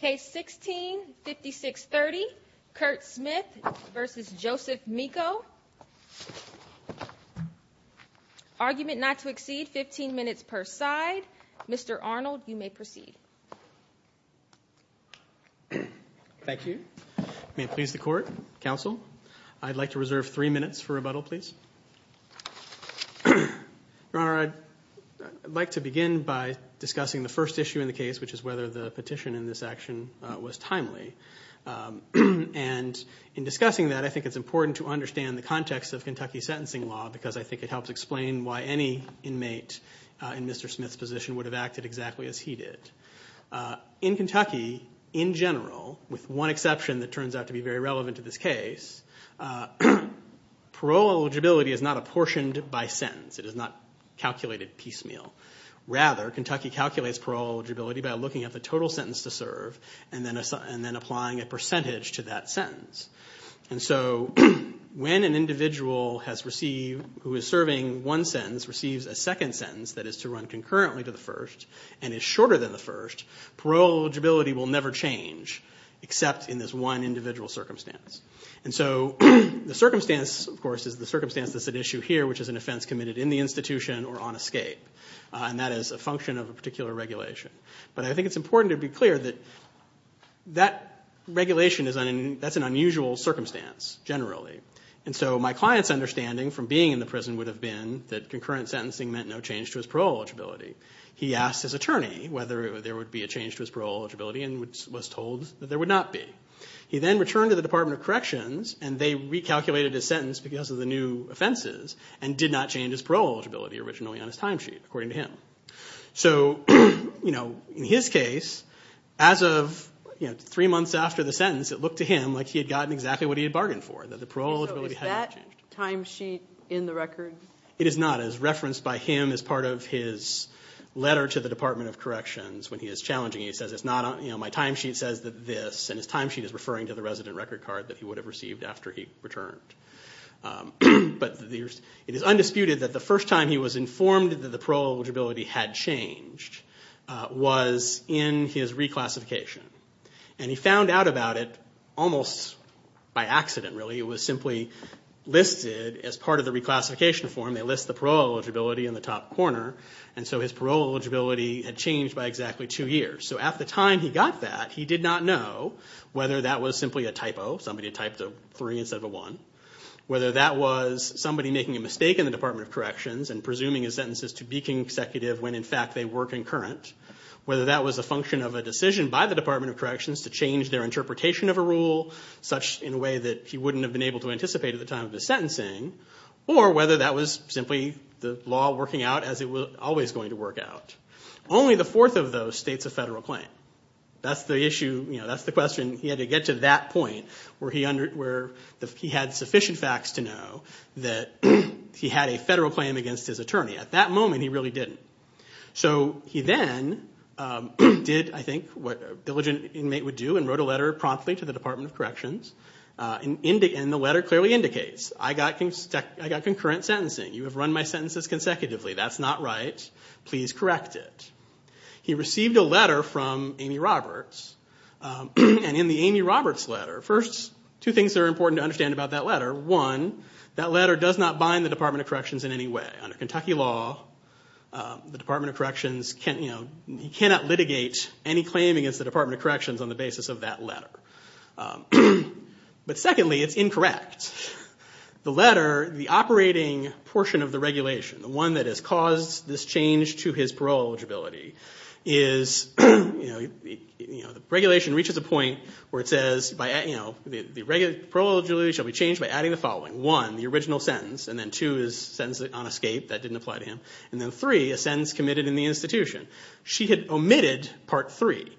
Case 16-5630, Kurt Smith v. Joseph Meko. Argument not to exceed 15 minutes per side. Mr. Arnold, you may proceed. Thank you. May it please the Court, Counsel, I'd like to reserve three minutes for rebuttal, please. Your Honor, I'd like to begin by discussing the first issue in the case, which is whether the petition in this action was timely. And in discussing that, I think it's important to understand the context of Kentucky sentencing law, because I think it helps explain why any inmate in Mr. Smith's position would have acted exactly as he did. In Kentucky, in general, with one exception that turns out to be very relevant to this case, parole eligibility is not apportioned by sentence. It is not calculated piecemeal. Rather, Kentucky calculates parole eligibility by looking at the total sentence to serve and then applying a percentage to that sentence. And so when an individual who is serving one sentence receives a second sentence that is to run concurrently to the first and is shorter than the first, parole eligibility will never change except in this one individual circumstance. And so the circumstance, of course, is the circumstance that's at issue here, which is an offense committed in the institution or on escape. And that is a function of a particular regulation. But I think it's important to be clear that that regulation is an unusual circumstance, generally. And so my client's understanding from being in the prison would have been that concurrent sentencing meant no change to his parole eligibility. He asked his attorney whether there would be a change to his parole eligibility and was told that there would not be. He then returned to the Department of Corrections, and they recalculated his sentence because of the new offenses and did not change his parole eligibility originally on his timesheet, according to him. So in his case, as of three months after the sentence, it looked to him like he had gotten exactly what he had bargained for, that the parole eligibility hadn't changed. So is that timesheet in the record? It is not. It is referenced by him as part of his letter to the Department of Corrections when he is challenging. He says, my timesheet says this, and his timesheet is referring to the resident record card that he would have received after he returned. But it is undisputed that the first time he was informed that the parole eligibility had changed was in his reclassification. And he found out about it almost by accident, really. It was simply listed as part of the reclassification form. They list the parole eligibility in the top corner. And so his parole eligibility had changed by exactly two years. So at the time he got that, he did not know whether that was simply a typo, somebody had typed a three instead of a one, whether that was somebody making a mistake in the Department of Corrections and presuming his sentences to be consecutive when in fact they were concurrent, whether that was a function of a decision by the Department of Corrections to change their interpretation of a rule, such in a way that he wouldn't have been able to anticipate at the time of his sentencing, or whether that was simply the law working out as it was always going to work out. Only the fourth of those states a federal claim. That's the question. He had to get to that point where he had sufficient facts to know that he had a federal claim against his attorney. At that moment he really didn't. So he then did, I think, what a diligent inmate would do and wrote a letter promptly to the Department of Corrections. And the letter clearly indicates, I got concurrent sentencing. You have run my sentences consecutively. That's not right. Please correct it. He received a letter from Amy Roberts, and in the Amy Roberts letter, first, two things that are important to understand about that letter. One, that letter does not bind the Department of Corrections in any way. Under Kentucky law, the Department of Corrections cannot litigate any claim against the Department of Corrections on the basis of that letter. But secondly, it's incorrect. The letter, the operating portion of the regulation, the one that has caused this change to his parole eligibility, the regulation reaches a point where it says, the parole eligibility shall be changed by adding the following. One, the original sentence, and then two, his sentence on escape. That didn't apply to him. And then three, a sentence committed in the institution. She had omitted part three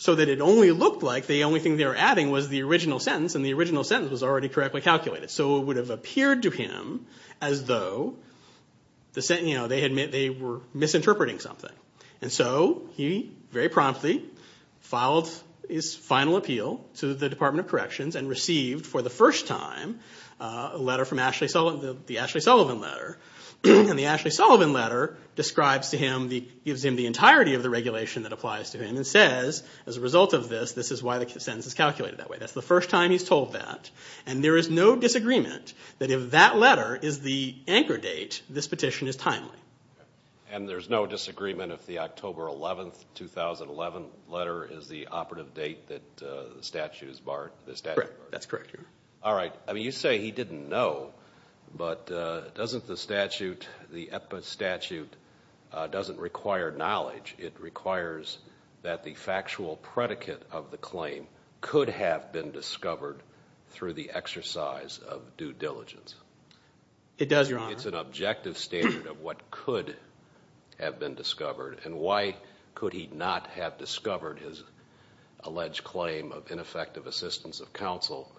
so that it only looked like the only thing they were adding was the original sentence, and the original sentence was already correctly calculated. So it would have appeared to him as though they were misinterpreting something. And so he very promptly filed his final appeal to the Department of Corrections and received, for the first time, a letter from Ashley Sullivan, the Ashley Sullivan letter. And the Ashley Sullivan letter describes to him, gives him the entirety of the regulation that applies to him, and says, as a result of this, this is why the sentence is calculated that way. That's the first time he's told that. And there is no disagreement that if that letter is the anchor date, this petition is timely. And there's no disagreement if the October 11, 2011, letter is the operative date that the statute is barred? That's correct. All right. I mean, you say he didn't know, but doesn't the statute, the EPPA statute, doesn't require knowledge. It requires that the factual predicate of the claim could have been discovered through the exercise of due diligence. It does, Your Honor. It's an objective standard of what could have been discovered. And why could he not have discovered his alleged claim of ineffective assistance of counsel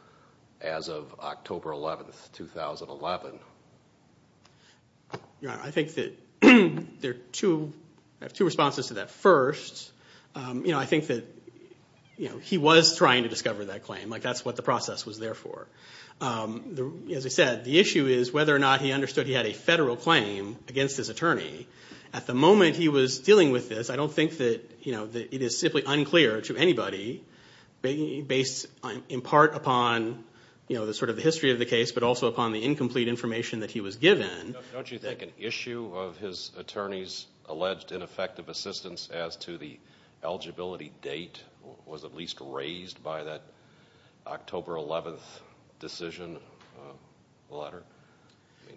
as of October 11, 2011? Your Honor, I think that there are two responses to that. First, I think that he was trying to discover that claim. That's what the process was there for. As I said, the issue is whether or not he understood he had a federal claim against his attorney. At the moment he was dealing with this, I don't think that it is simply unclear to anybody, based in part upon the history of the case, but also upon the incomplete information that he was given. Don't you think an issue of his attorney's alleged ineffective assistance as to the eligibility date was at least raised by that October 11 decision, the latter?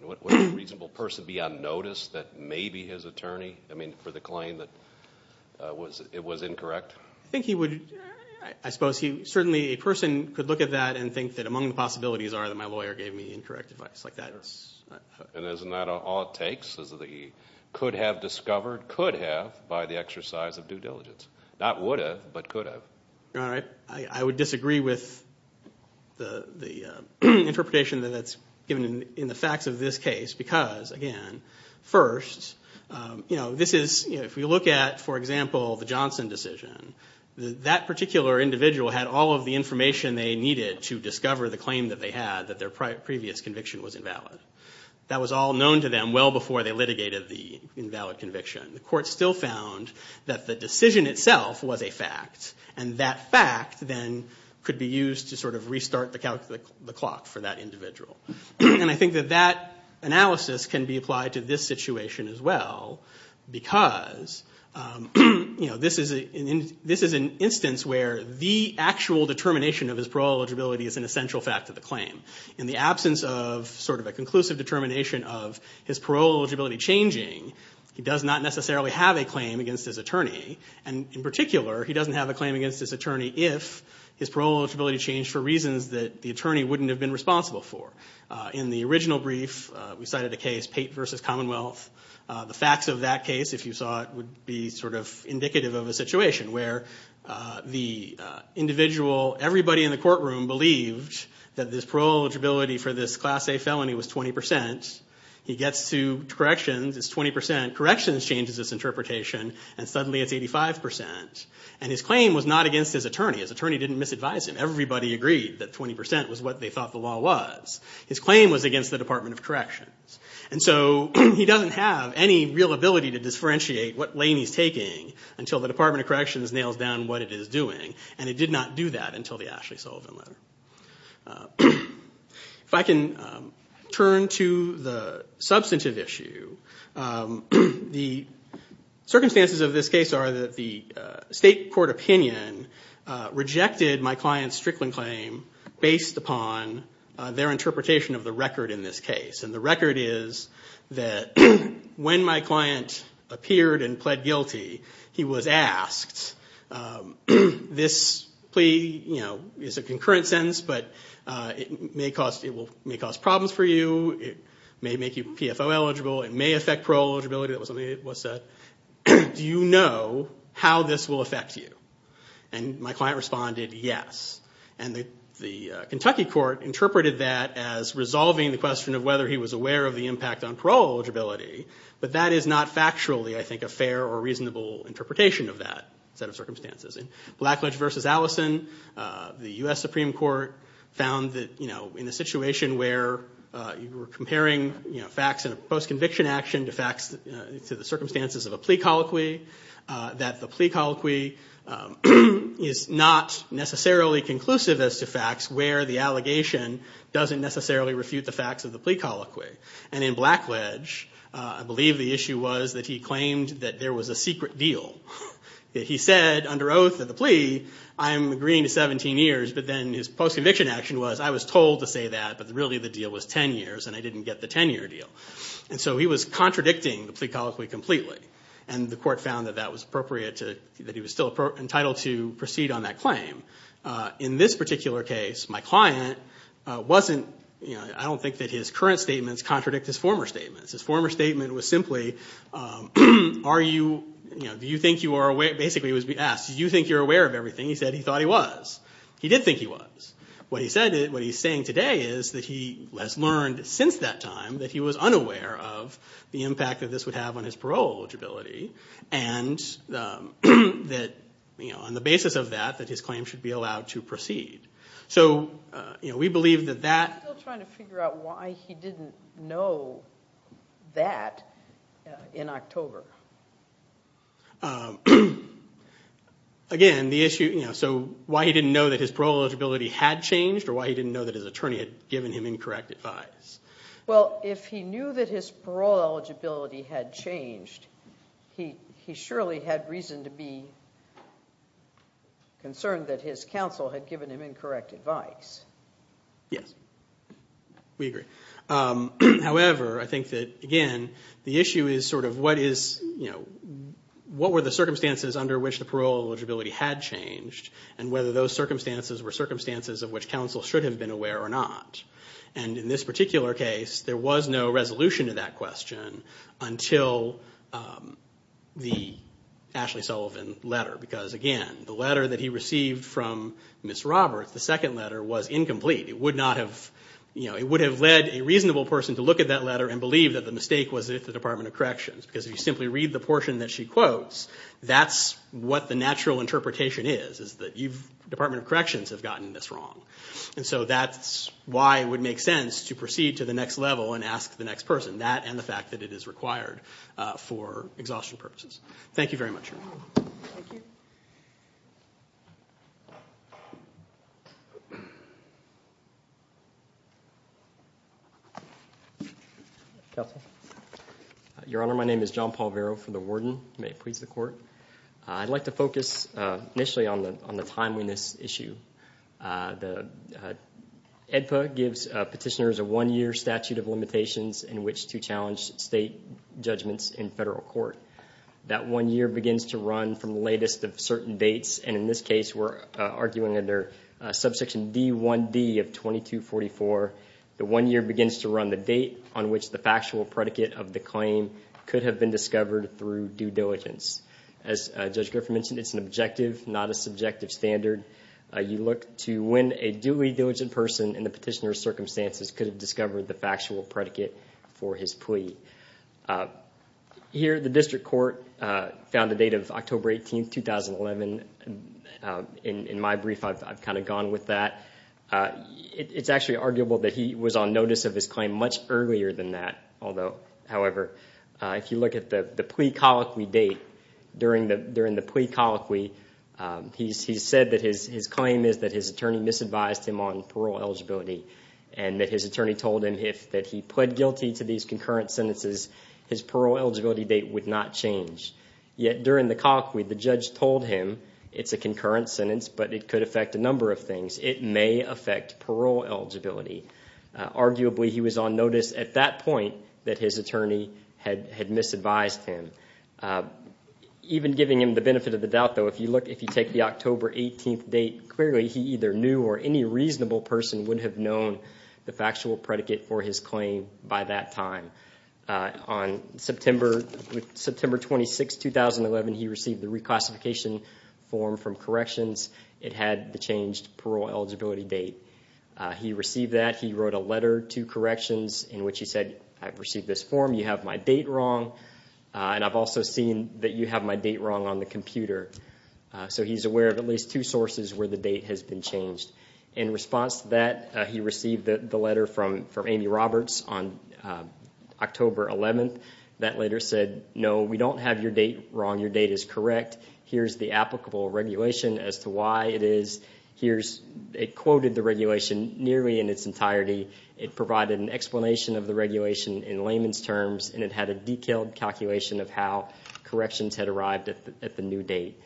Would a reasonable person be unnoticed that may be his attorney, I mean, for the claim that it was incorrect? I think he would. I suppose certainly a person could look at that and think that among the possibilities are that my lawyer gave me incorrect advice. Isn't that all it takes? Could have discovered? Could have by the exercise of due diligence. Not would have, but could have. Your Honor, I would disagree with the interpretation that's given in the facts of this case because, again, first, if we look at, for example, the Johnson decision, that particular individual had all of the information they needed to discover the claim that they had that their previous conviction was invalid. That was all known to them well before they litigated the invalid conviction. The court still found that the decision itself was a fact, and that fact then could be used to sort of restart the clock for that individual. And I think that that analysis can be applied to this situation as well because this is an instance where the actual determination of his parole eligibility is an essential fact of the claim. In the absence of sort of a conclusive determination of his parole eligibility changing, he does not necessarily have a claim against his attorney, and in particular, he doesn't have a claim against his attorney if his parole eligibility changed for reasons that the attorney wouldn't have been responsible for. In the original brief, we cited a case, Pate v. Commonwealth, the facts of that case, if you saw it, would be sort of indicative of a situation where the individual, everybody in the courtroom believed that his parole eligibility for this Class A felony was 20 percent. He gets to corrections, it's 20 percent. Corrections changes its interpretation, and suddenly it's 85 percent. And his claim was not against his attorney. His attorney didn't misadvise him. Everybody agreed that 20 percent was what they thought the law was. His claim was against the Department of Corrections. And so he doesn't have any real ability to differentiate what lane he's taking until the Department of Corrections nails down what it is doing, and it did not do that until the Ashley Sullivan letter. If I can turn to the substantive issue, the circumstances of this case are that the state court opinion rejected my client's Strickland claim based upon their interpretation of the record in this case. And the record is that when my client appeared and pled guilty, he was asked, this plea is a concurrent sentence, but it may cause problems for you. It may make you PFO eligible. It may affect parole eligibility. Do you know how this will affect you? And my client responded, yes. And the Kentucky court interpreted that as resolving the question of whether he was aware of the impact on parole eligibility, but that is not factually, I think, a fair or reasonable interpretation of that set of circumstances. In Blackledge v. Allison, the U.S. Supreme Court found that, you know, in a situation where you were comparing, you know, facts in a post-conviction action to facts to the circumstances of a plea colloquy, that the plea colloquy is not necessarily conclusive as to facts, where the allegation doesn't necessarily refute the facts of the plea colloquy. And in Blackledge, I believe the issue was that he claimed that there was a secret deal. He said under oath of the plea, I am agreeing to 17 years, but then his post-conviction action was, I was told to say that, but really the deal was 10 years and I didn't get the 10-year deal. And so he was contradicting the plea colloquy completely. And the court found that that was appropriate to, that he was still entitled to proceed on that claim. In this particular case, my client wasn't, you know, I don't think that his current statements contradict his former statements. His former statement was simply, are you, you know, do you think you are aware, basically it was asked, do you think you're aware of everything? He said he thought he was. He did think he was. What he said, what he's saying today is that he has learned since that time that he was unaware of the impact that this would have on his parole eligibility. And that, you know, on the basis of that, that his claim should be allowed to proceed. So, you know, we believe that that. Are you still trying to figure out why he didn't know that in October? Again, the issue, you know, so why he didn't know that his parole eligibility had changed or why he didn't know that his attorney had given him incorrect advice? Well, if he knew that his parole eligibility had changed, he surely had reason to be concerned that his counsel had given him incorrect advice. Yes, we agree. However, I think that, again, the issue is sort of what is, you know, what were the circumstances under which the parole eligibility had changed and whether those circumstances were circumstances of which counsel should have been aware or not. And in this particular case, there was no resolution to that question until the Ashley Sullivan letter. Because, again, the letter that he received from Ms. Roberts, the second letter, was incomplete. It would not have, you know, it would have led a reasonable person to look at that letter and believe that the mistake was with the Department of Corrections. Because if you simply read the portion that she quotes, that's what the natural interpretation is, is that you've, Department of Corrections have gotten this wrong. And so that's why it would make sense to proceed to the next level and ask the next person, that and the fact that it is required for exhaustion purposes. Thank you very much, Your Honor. Thank you. Counsel. Your Honor, my name is John Paul Vero for the Warden. May it please the Court. I'd like to focus initially on the timeliness issue. The AEDPA gives petitioners a one-year statute of limitations in which to challenge state judgments in federal court. That one year begins to run from the latest of certain dates, and in this case we're arguing under Subsection D1D of 2244. The one year begins to run the date on which the factual predicate of the claim could have been discovered through due diligence. As Judge Griffith mentioned, it's an objective, not a subjective standard. You look to when a duly diligent person in the petitioner's circumstances could have discovered the factual predicate for his plea. Here, the district court found the date of October 18, 2011. In my brief, I've kind of gone with that. It's actually arguable that he was on notice of his claim much earlier than that, although, however, if you look at the plea colloquy date during the plea colloquy, he said that his claim is that his attorney misadvised him on parole eligibility and that his attorney told him that if he pled guilty to these concurrent sentences, his parole eligibility date would not change. Yet during the colloquy, the judge told him it's a concurrent sentence, but it could affect a number of things. It may affect parole eligibility. Arguably, he was on notice at that point that his attorney had misadvised him. Even giving him the benefit of the doubt, though, if you take the October 18 date, clearly he either knew or any reasonable person would have known the factual predicate for his claim by that time. On September 26, 2011, he received the reclassification form from Corrections. It had the changed parole eligibility date. He received that. He wrote a letter to Corrections in which he said, I've received this form. You have my date wrong, and I've also seen that you have my date wrong on the computer. So he's aware of at least two sources where the date has been changed. In response to that, he received the letter from Amy Roberts on October 11. That letter said, no, we don't have your date wrong. Your date is correct. Here's the applicable regulation as to why it is. It quoted the regulation nearly in its entirety. It provided an explanation of the regulation in layman's terms, and it had a detailed calculation of how Corrections had arrived at the new date.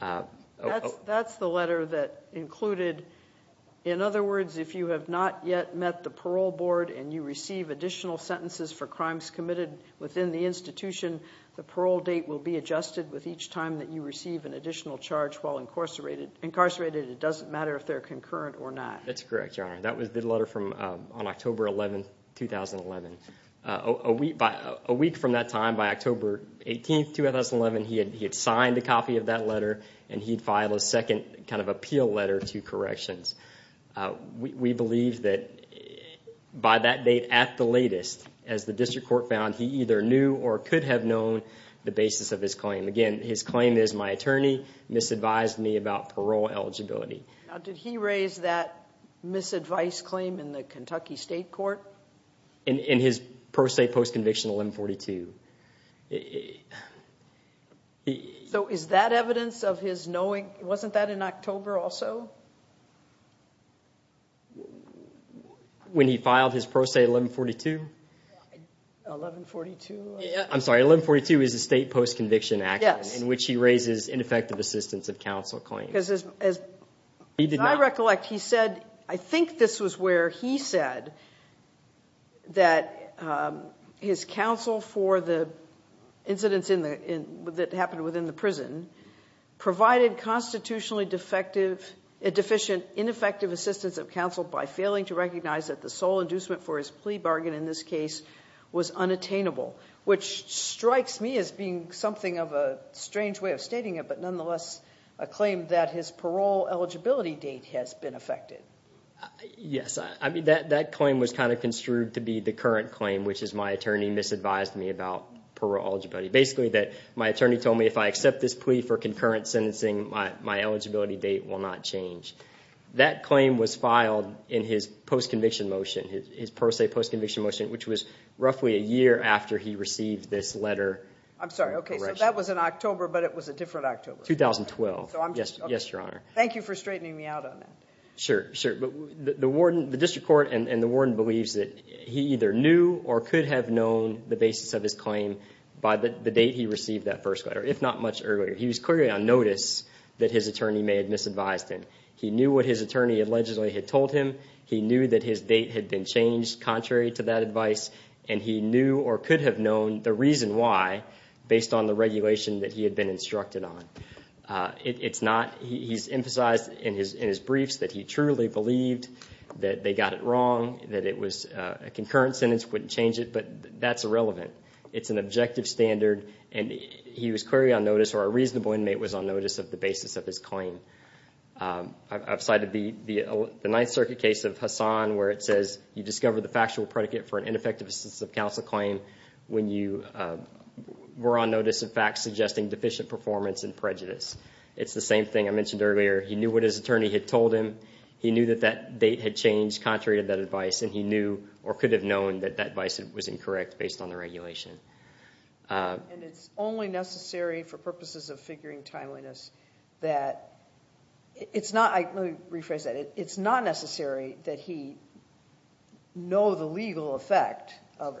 That's the letter that included, in other words, if you have not yet met the parole board and you receive additional sentences for crimes committed within the institution, the parole date will be adjusted with each time that you receive an additional charge while incarcerated. It doesn't matter if they're concurrent or not. That's correct, Your Honor. That was the letter on October 11, 2011. A week from that time, by October 18, 2011, he had signed a copy of that letter, and he'd filed a second kind of appeal letter to Corrections. We believe that by that date at the latest, as the district court found, he either knew or could have known the basis of his claim. Again, his claim is, my attorney misadvised me about parole eligibility. Did he raise that misadvice claim in the Kentucky State Court? In his pro se post-conviction 1142. Is that evidence of his knowing? Wasn't that in October also? When he filed his pro se 1142? 1142? I'm sorry, 1142 is a state post-conviction action in which he raises ineffective assistance of counsel claims. As I recollect, he said, I think this was where he said that his counsel for the incidents that happened within the prison provided constitutionally deficient, ineffective assistance of counsel by failing to recognize that the sole inducement for his plea bargain in this case was unattainable, which strikes me as being something of a strange way of stating it, but nonetheless a claim that his parole eligibility date has been affected. Yes, that claim was kind of construed to be the current claim, which is my attorney misadvised me about parole eligibility. Basically, my attorney told me if I accept this plea for concurrent sentencing, my eligibility date will not change. That claim was filed in his post-conviction motion, his pro se post-conviction motion, which was roughly a year after he received this letter. I'm sorry. Okay, so that was in October, but it was a different October. 2012. Yes, Your Honor. Thank you for straightening me out on that. Sure, sure. The district court and the warden believes that he either knew or could have known the basis of his claim by the date he received that first letter, if not much earlier. He was clearly on notice that his attorney may have misadvised him. He knew what his attorney allegedly had told him. He knew that his date had been changed contrary to that advice, and he knew or could have known the reason why, based on the regulation that he had been instructed on. He's emphasized in his briefs that he truly believed that they got it wrong, that a concurrent sentence wouldn't change it, but that's irrelevant. It's an objective standard, and he was clearly on notice, or a reasonable inmate was on notice of the basis of his claim. I've cited the Ninth Circuit case of Hassan where it says, you discover the factual predicate for an ineffective assistance of counsel claim when you were on notice of facts suggesting deficient performance and prejudice. It's the same thing I mentioned earlier. He knew what his attorney had told him. He knew that that date had changed contrary to that advice, and he knew or could have known that that advice was incorrect based on the regulation. And it's only necessary for purposes of figuring timeliness that it's not, let me rephrase that, it's not necessary that he know the legal effect of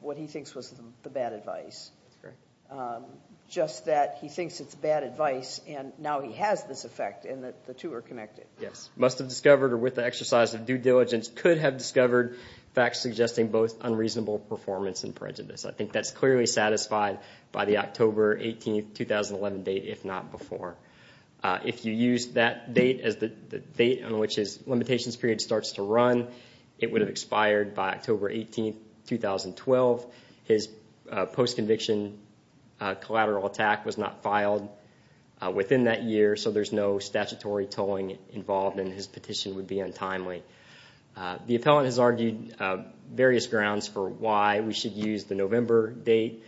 what he thinks was the bad advice. That's correct. Just that he thinks it's bad advice, and now he has this effect, and the two are connected. Yes. Must have discovered, or with the exercise of due diligence, could have discovered facts suggesting both unreasonable performance and prejudice. I think that's clearly satisfied by the October 18, 2011 date, if not before. If you use that date as the date on which his limitations period starts to run, it would have expired by October 18, 2012. His post-conviction collateral attack was not filed within that year, so there's no statutory tolling involved, and his petition would be untimely. The appellant has argued various grounds for why we should use the November date.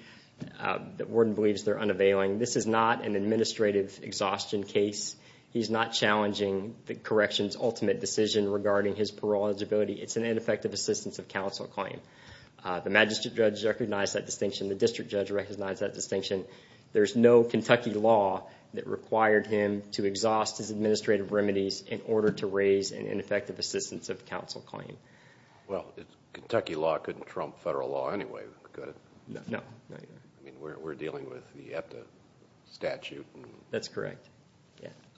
The warden believes they're unavailing. This is not an administrative exhaustion case. He's not challenging the correction's ultimate decision regarding his parole eligibility. It's an ineffective assistance of counsel claim. The magistrate judge recognized that distinction. The district judge recognized that distinction. There's no Kentucky law that required him to exhaust his administrative remedies in order to raise an ineffective assistance of counsel claim. Well, Kentucky law couldn't trump federal law anyway, could it? No. I mean, we're dealing with the EPTA statute. That's correct.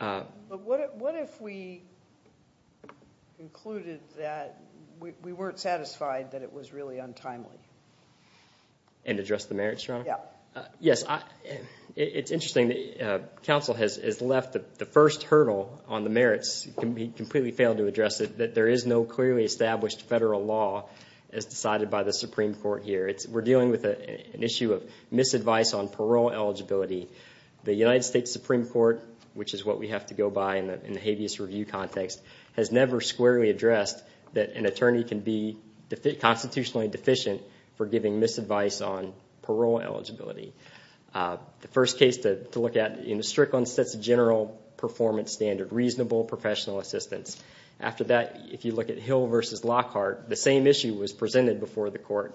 But what if we concluded that we weren't satisfied that it was really untimely? And address the merits, Your Honor? Yes. It's interesting. Counsel has left the first hurdle on the merits. He completely failed to address it, that there is no clearly established federal law as decided by the Supreme Court here. We're dealing with an issue of misadvice on parole eligibility. The United States Supreme Court, which is what we have to go by in the habeas review context, has never squarely addressed that an attorney can be constitutionally deficient for giving misadvice on parole eligibility. The first case to look at in the Strickland sets a general performance standard, reasonable professional assistance. After that, if you look at Hill v. Lockhart, the same issue was presented before the court.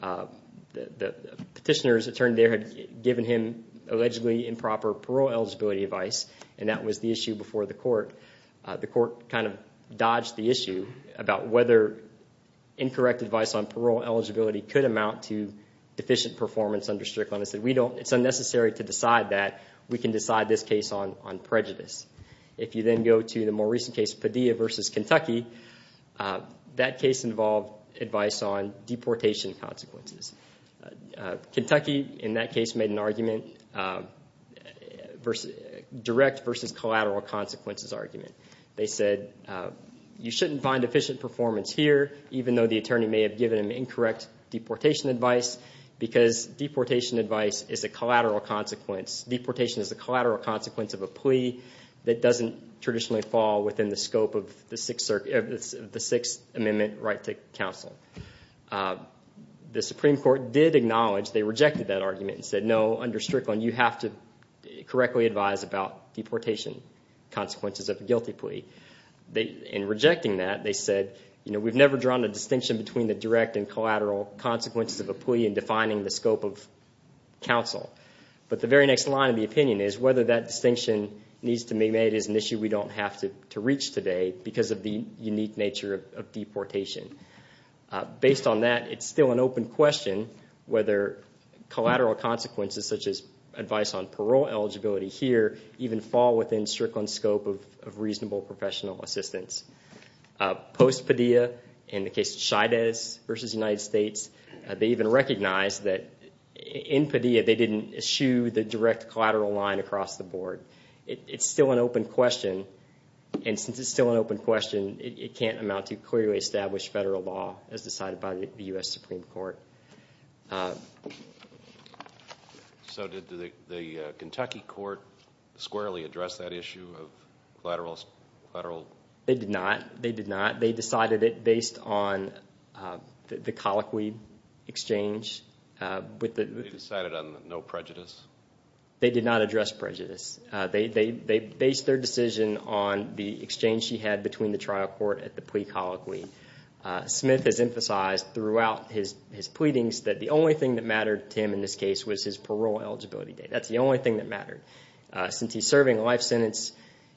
The petitioner's attorney there had given him allegedly improper parole eligibility advice, and that was the issue before the court. The court kind of dodged the issue about whether incorrect advice on parole eligibility could amount to deficient performance under Strickland. It said it's unnecessary to decide that. We can decide this case on prejudice. If you then go to the more recent case, Padilla v. Kentucky, that case involved advice on deportation consequences. Kentucky, in that case, made a direct versus collateral consequences argument. They said you shouldn't find deficient performance here, even though the attorney may have given him incorrect deportation advice, because deportation advice is a collateral consequence. Deportation is a collateral consequence of a plea that doesn't traditionally fall within the scope of the Sixth Amendment right to counsel. The Supreme Court did acknowledge they rejected that argument and said, no, under Strickland, you have to correctly advise about deportation consequences of a guilty plea. In rejecting that, they said we've never drawn a distinction between the direct and collateral consequences of a plea in defining the scope of counsel. But the very next line of the opinion is whether that distinction needs to be made and it is an issue we don't have to reach today because of the unique nature of deportation. Based on that, it's still an open question whether collateral consequences, such as advice on parole eligibility here, even fall within Strickland's scope of reasonable professional assistance. Post-Padilla, in the case of Chaidez v. United States, they even recognized that in Padilla they didn't eschew the direct collateral line across the board. It's still an open question, and since it's still an open question, it can't amount to clearly established federal law as decided by the U.S. Supreme Court. So did the Kentucky court squarely address that issue of collateral? They did not. They did not. They decided it based on the colloquy exchange. They decided on no prejudice? They did not address prejudice. They based their decision on the exchange she had between the trial court and the plea colloquy. Smith has emphasized throughout his pleadings that the only thing that mattered to him in this case was his parole eligibility date. That's the only thing that mattered. Since he's serving a life sentence,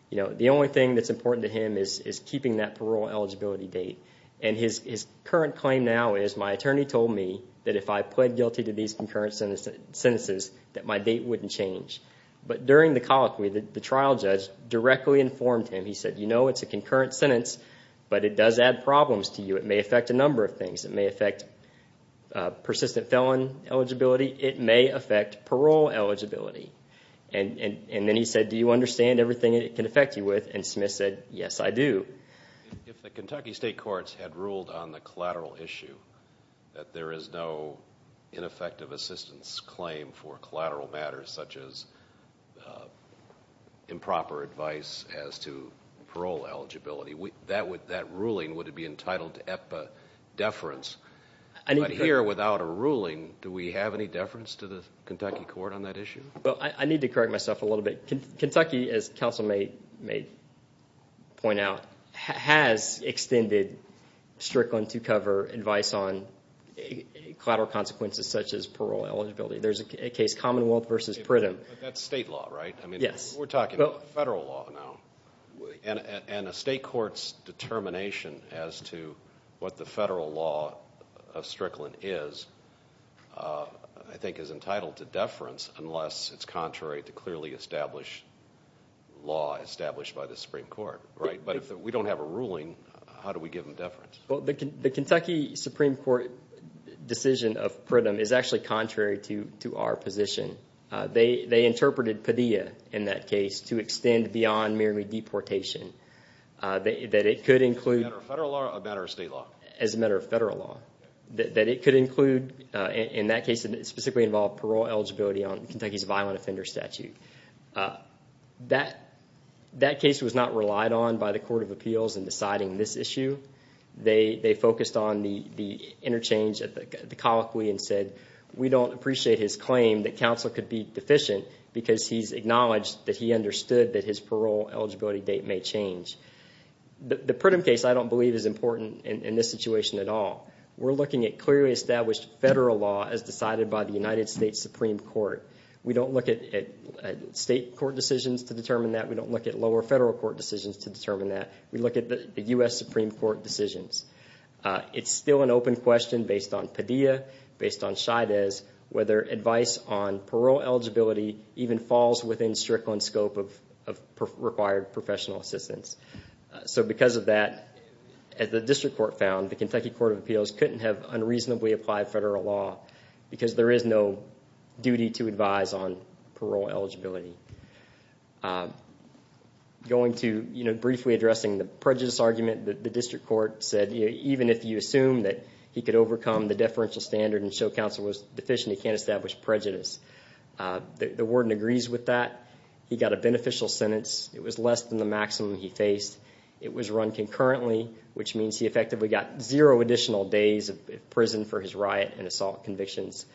the only thing that's important to him is keeping that parole eligibility date. His current claim now is, my attorney told me that if I pled guilty to these concurrent sentences, that my date wouldn't change. But during the colloquy, the trial judge directly informed him. He said, you know it's a concurrent sentence, but it does add problems to you. It may affect a number of things. It may affect persistent felon eligibility. It may affect parole eligibility. And then he said, do you understand everything it can affect you with? And Smith said, yes, I do. If the Kentucky state courts had ruled on the collateral issue, that there is no ineffective assistance claim for collateral matters, such as improper advice as to parole eligibility, that ruling would be entitled to EPA deference. But here, without a ruling, do we have any deference to the Kentucky court on that issue? Well, I need to correct myself a little bit. Kentucky, as counsel may point out, has extended Strickland to cover advice on collateral consequences such as parole eligibility. There's a case, Commonwealth v. Pridham. But that's state law, right? Yes. We're talking about federal law now. And a state court's determination as to what the federal law of Strickland is, I think is entitled to deference, unless it's contrary to clearly established law established by the Supreme Court, right? But if we don't have a ruling, how do we give them deference? Well, the Kentucky Supreme Court decision of Pridham is actually contrary to our position. They interpreted Padilla, in that case, to extend beyond merely deportation. As a matter of federal law or as a matter of state law? As a matter of federal law. That it could include, in that case, it specifically involved parole eligibility on Kentucky's violent offender statute. That case was not relied on by the Court of Appeals in deciding this issue. They focused on the interchange at the colloquy and said, we don't appreciate his claim that counsel could be deficient because he's acknowledged that he understood that his parole eligibility date may change. The Pridham case, I don't believe, is important in this situation at all. We're looking at clearly established federal law as decided by the United States Supreme Court. We don't look at state court decisions to determine that. We don't look at lower federal court decisions to determine that. We look at the U.S. Supreme Court decisions. It's still an open question based on Padilla, based on Scheides, whether advice on parole eligibility even falls within Strickland's scope of required professional assistance. Because of that, as the District Court found, the Kentucky Court of Appeals couldn't have unreasonably applied federal law because there is no duty to advise on parole eligibility. Briefly addressing the prejudice argument, the District Court said, even if you assume that he could overcome the deferential standard and show counsel was deficient, he can't establish prejudice. The warden agrees with that. He got a beneficial sentence. It was less than the maximum he faced. It was run concurrently, which means he effectively got zero additional days of prison for his riot and assault convictions.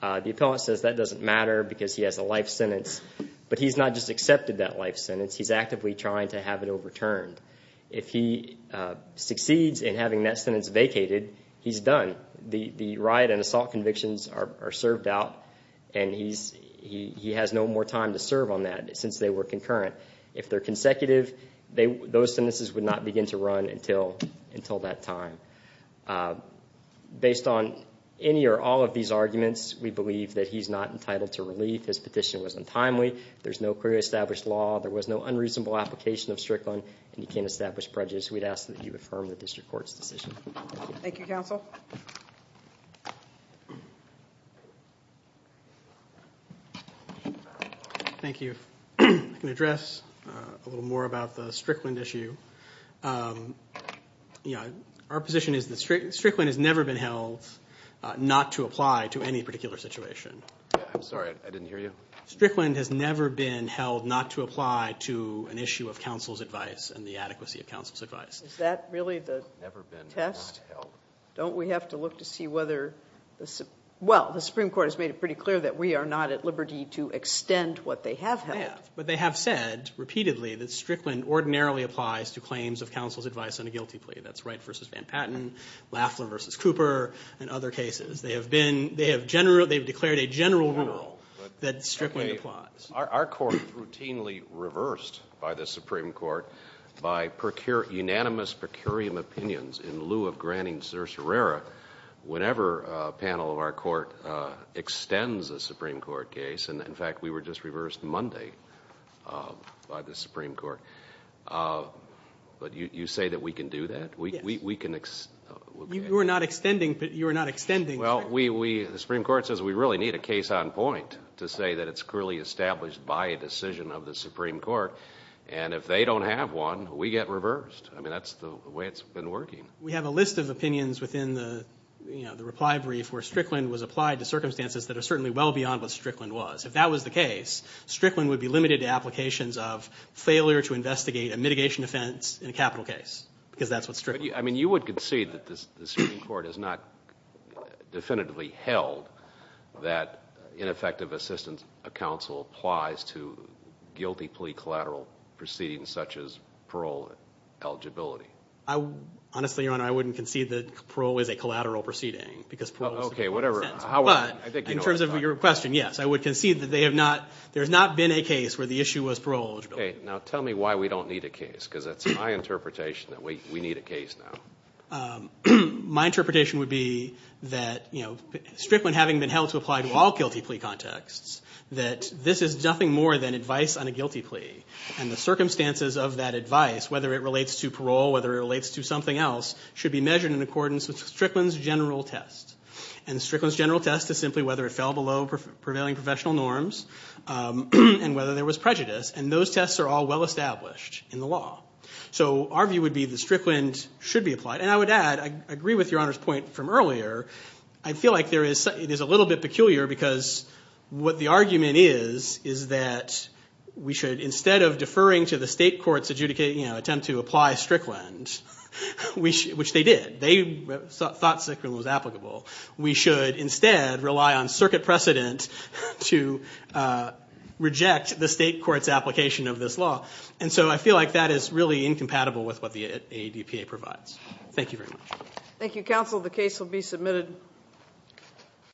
The appellant says that doesn't matter because he has a life sentence, but he's not just accepted that life sentence. He's actively trying to have it overturned. If he succeeds in having that sentence vacated, he's done. The riot and assault convictions are served out, and he has no more time to serve on that since they were concurrent. If they're consecutive, those sentences would not begin to run until that time. Based on any or all of these arguments, we believe that he's not entitled to relief. His petition was untimely. There's no clearly established law. There was no unreasonable application of Strickland, and he can't establish prejudice. We'd ask that you affirm the District Court's decision. Thank you, counsel. Thank you. I'm going to address a little more about the Strickland issue. Our position is that Strickland has never been held not to apply to any particular situation. I'm sorry. I didn't hear you. Strickland has never been held not to apply to an issue of counsel's advice and the adequacy of counsel's advice. Is that really the test? Don't we have to look to see whether the Supreme Court has made it pretty clear that we are not at liberty to extend what they have held? They have, but they have said repeatedly that Strickland ordinarily applies to claims of counsel's advice on a guilty plea. That's Wright v. Van Patten, Laflin v. Cooper, and other cases. They have declared a general rule that Strickland applies. Our court is routinely reversed by the Supreme Court by unanimous per curiam opinions in lieu of granting certiorari whenever a panel of our court extends a Supreme Court case. In fact, we were just reversed Monday by the Supreme Court. But you say that we can do that? Yes. You are not extending Strickland? Well, the Supreme Court says we really need a case on point to say that it's clearly established by a decision of the Supreme Court, and if they don't have one, we get reversed. I mean, that's the way it's been working. We have a list of opinions within the reply brief where Strickland was applied to circumstances that are certainly well beyond what Strickland was. If that was the case, Strickland would be limited to applications of failure to investigate a mitigation offense in a capital case because that's what Strickland is. I mean, you would concede that the Supreme Court has not definitively held that ineffective assistance of counsel applies to guilty plea collateral proceedings such as parole eligibility. Honestly, Your Honor, I wouldn't concede that parole is a collateral proceeding because parole is the point of sentence. Okay, whatever. But in terms of your question, yes, I would concede that there has not been a case where the issue was parole eligibility. Okay. Now tell me why we don't need a case because that's my interpretation that we need a case now. My interpretation would be that Strickland having been held to apply to all guilty plea contexts, that this is nothing more than advice on a guilty plea, and the circumstances of that advice, whether it relates to parole, whether it relates to something else, should be measured in accordance with Strickland's general test. And Strickland's general test is simply whether it fell below prevailing professional norms and whether there was prejudice. And those tests are all well established in the law. So our view would be that Strickland should be applied. And I would add, I agree with Your Honor's point from earlier, I feel like it is a little bit peculiar because what the argument is, is that we should, instead of deferring to the state court's attempt to apply Strickland, which they did, they thought Strickland was applicable, we should instead rely on circuit precedent to reject the state court's application of this law. And so I feel like that is really incompatible with what the ADPA provides. Thank you very much. Thank you, counsel. The case will be submitted.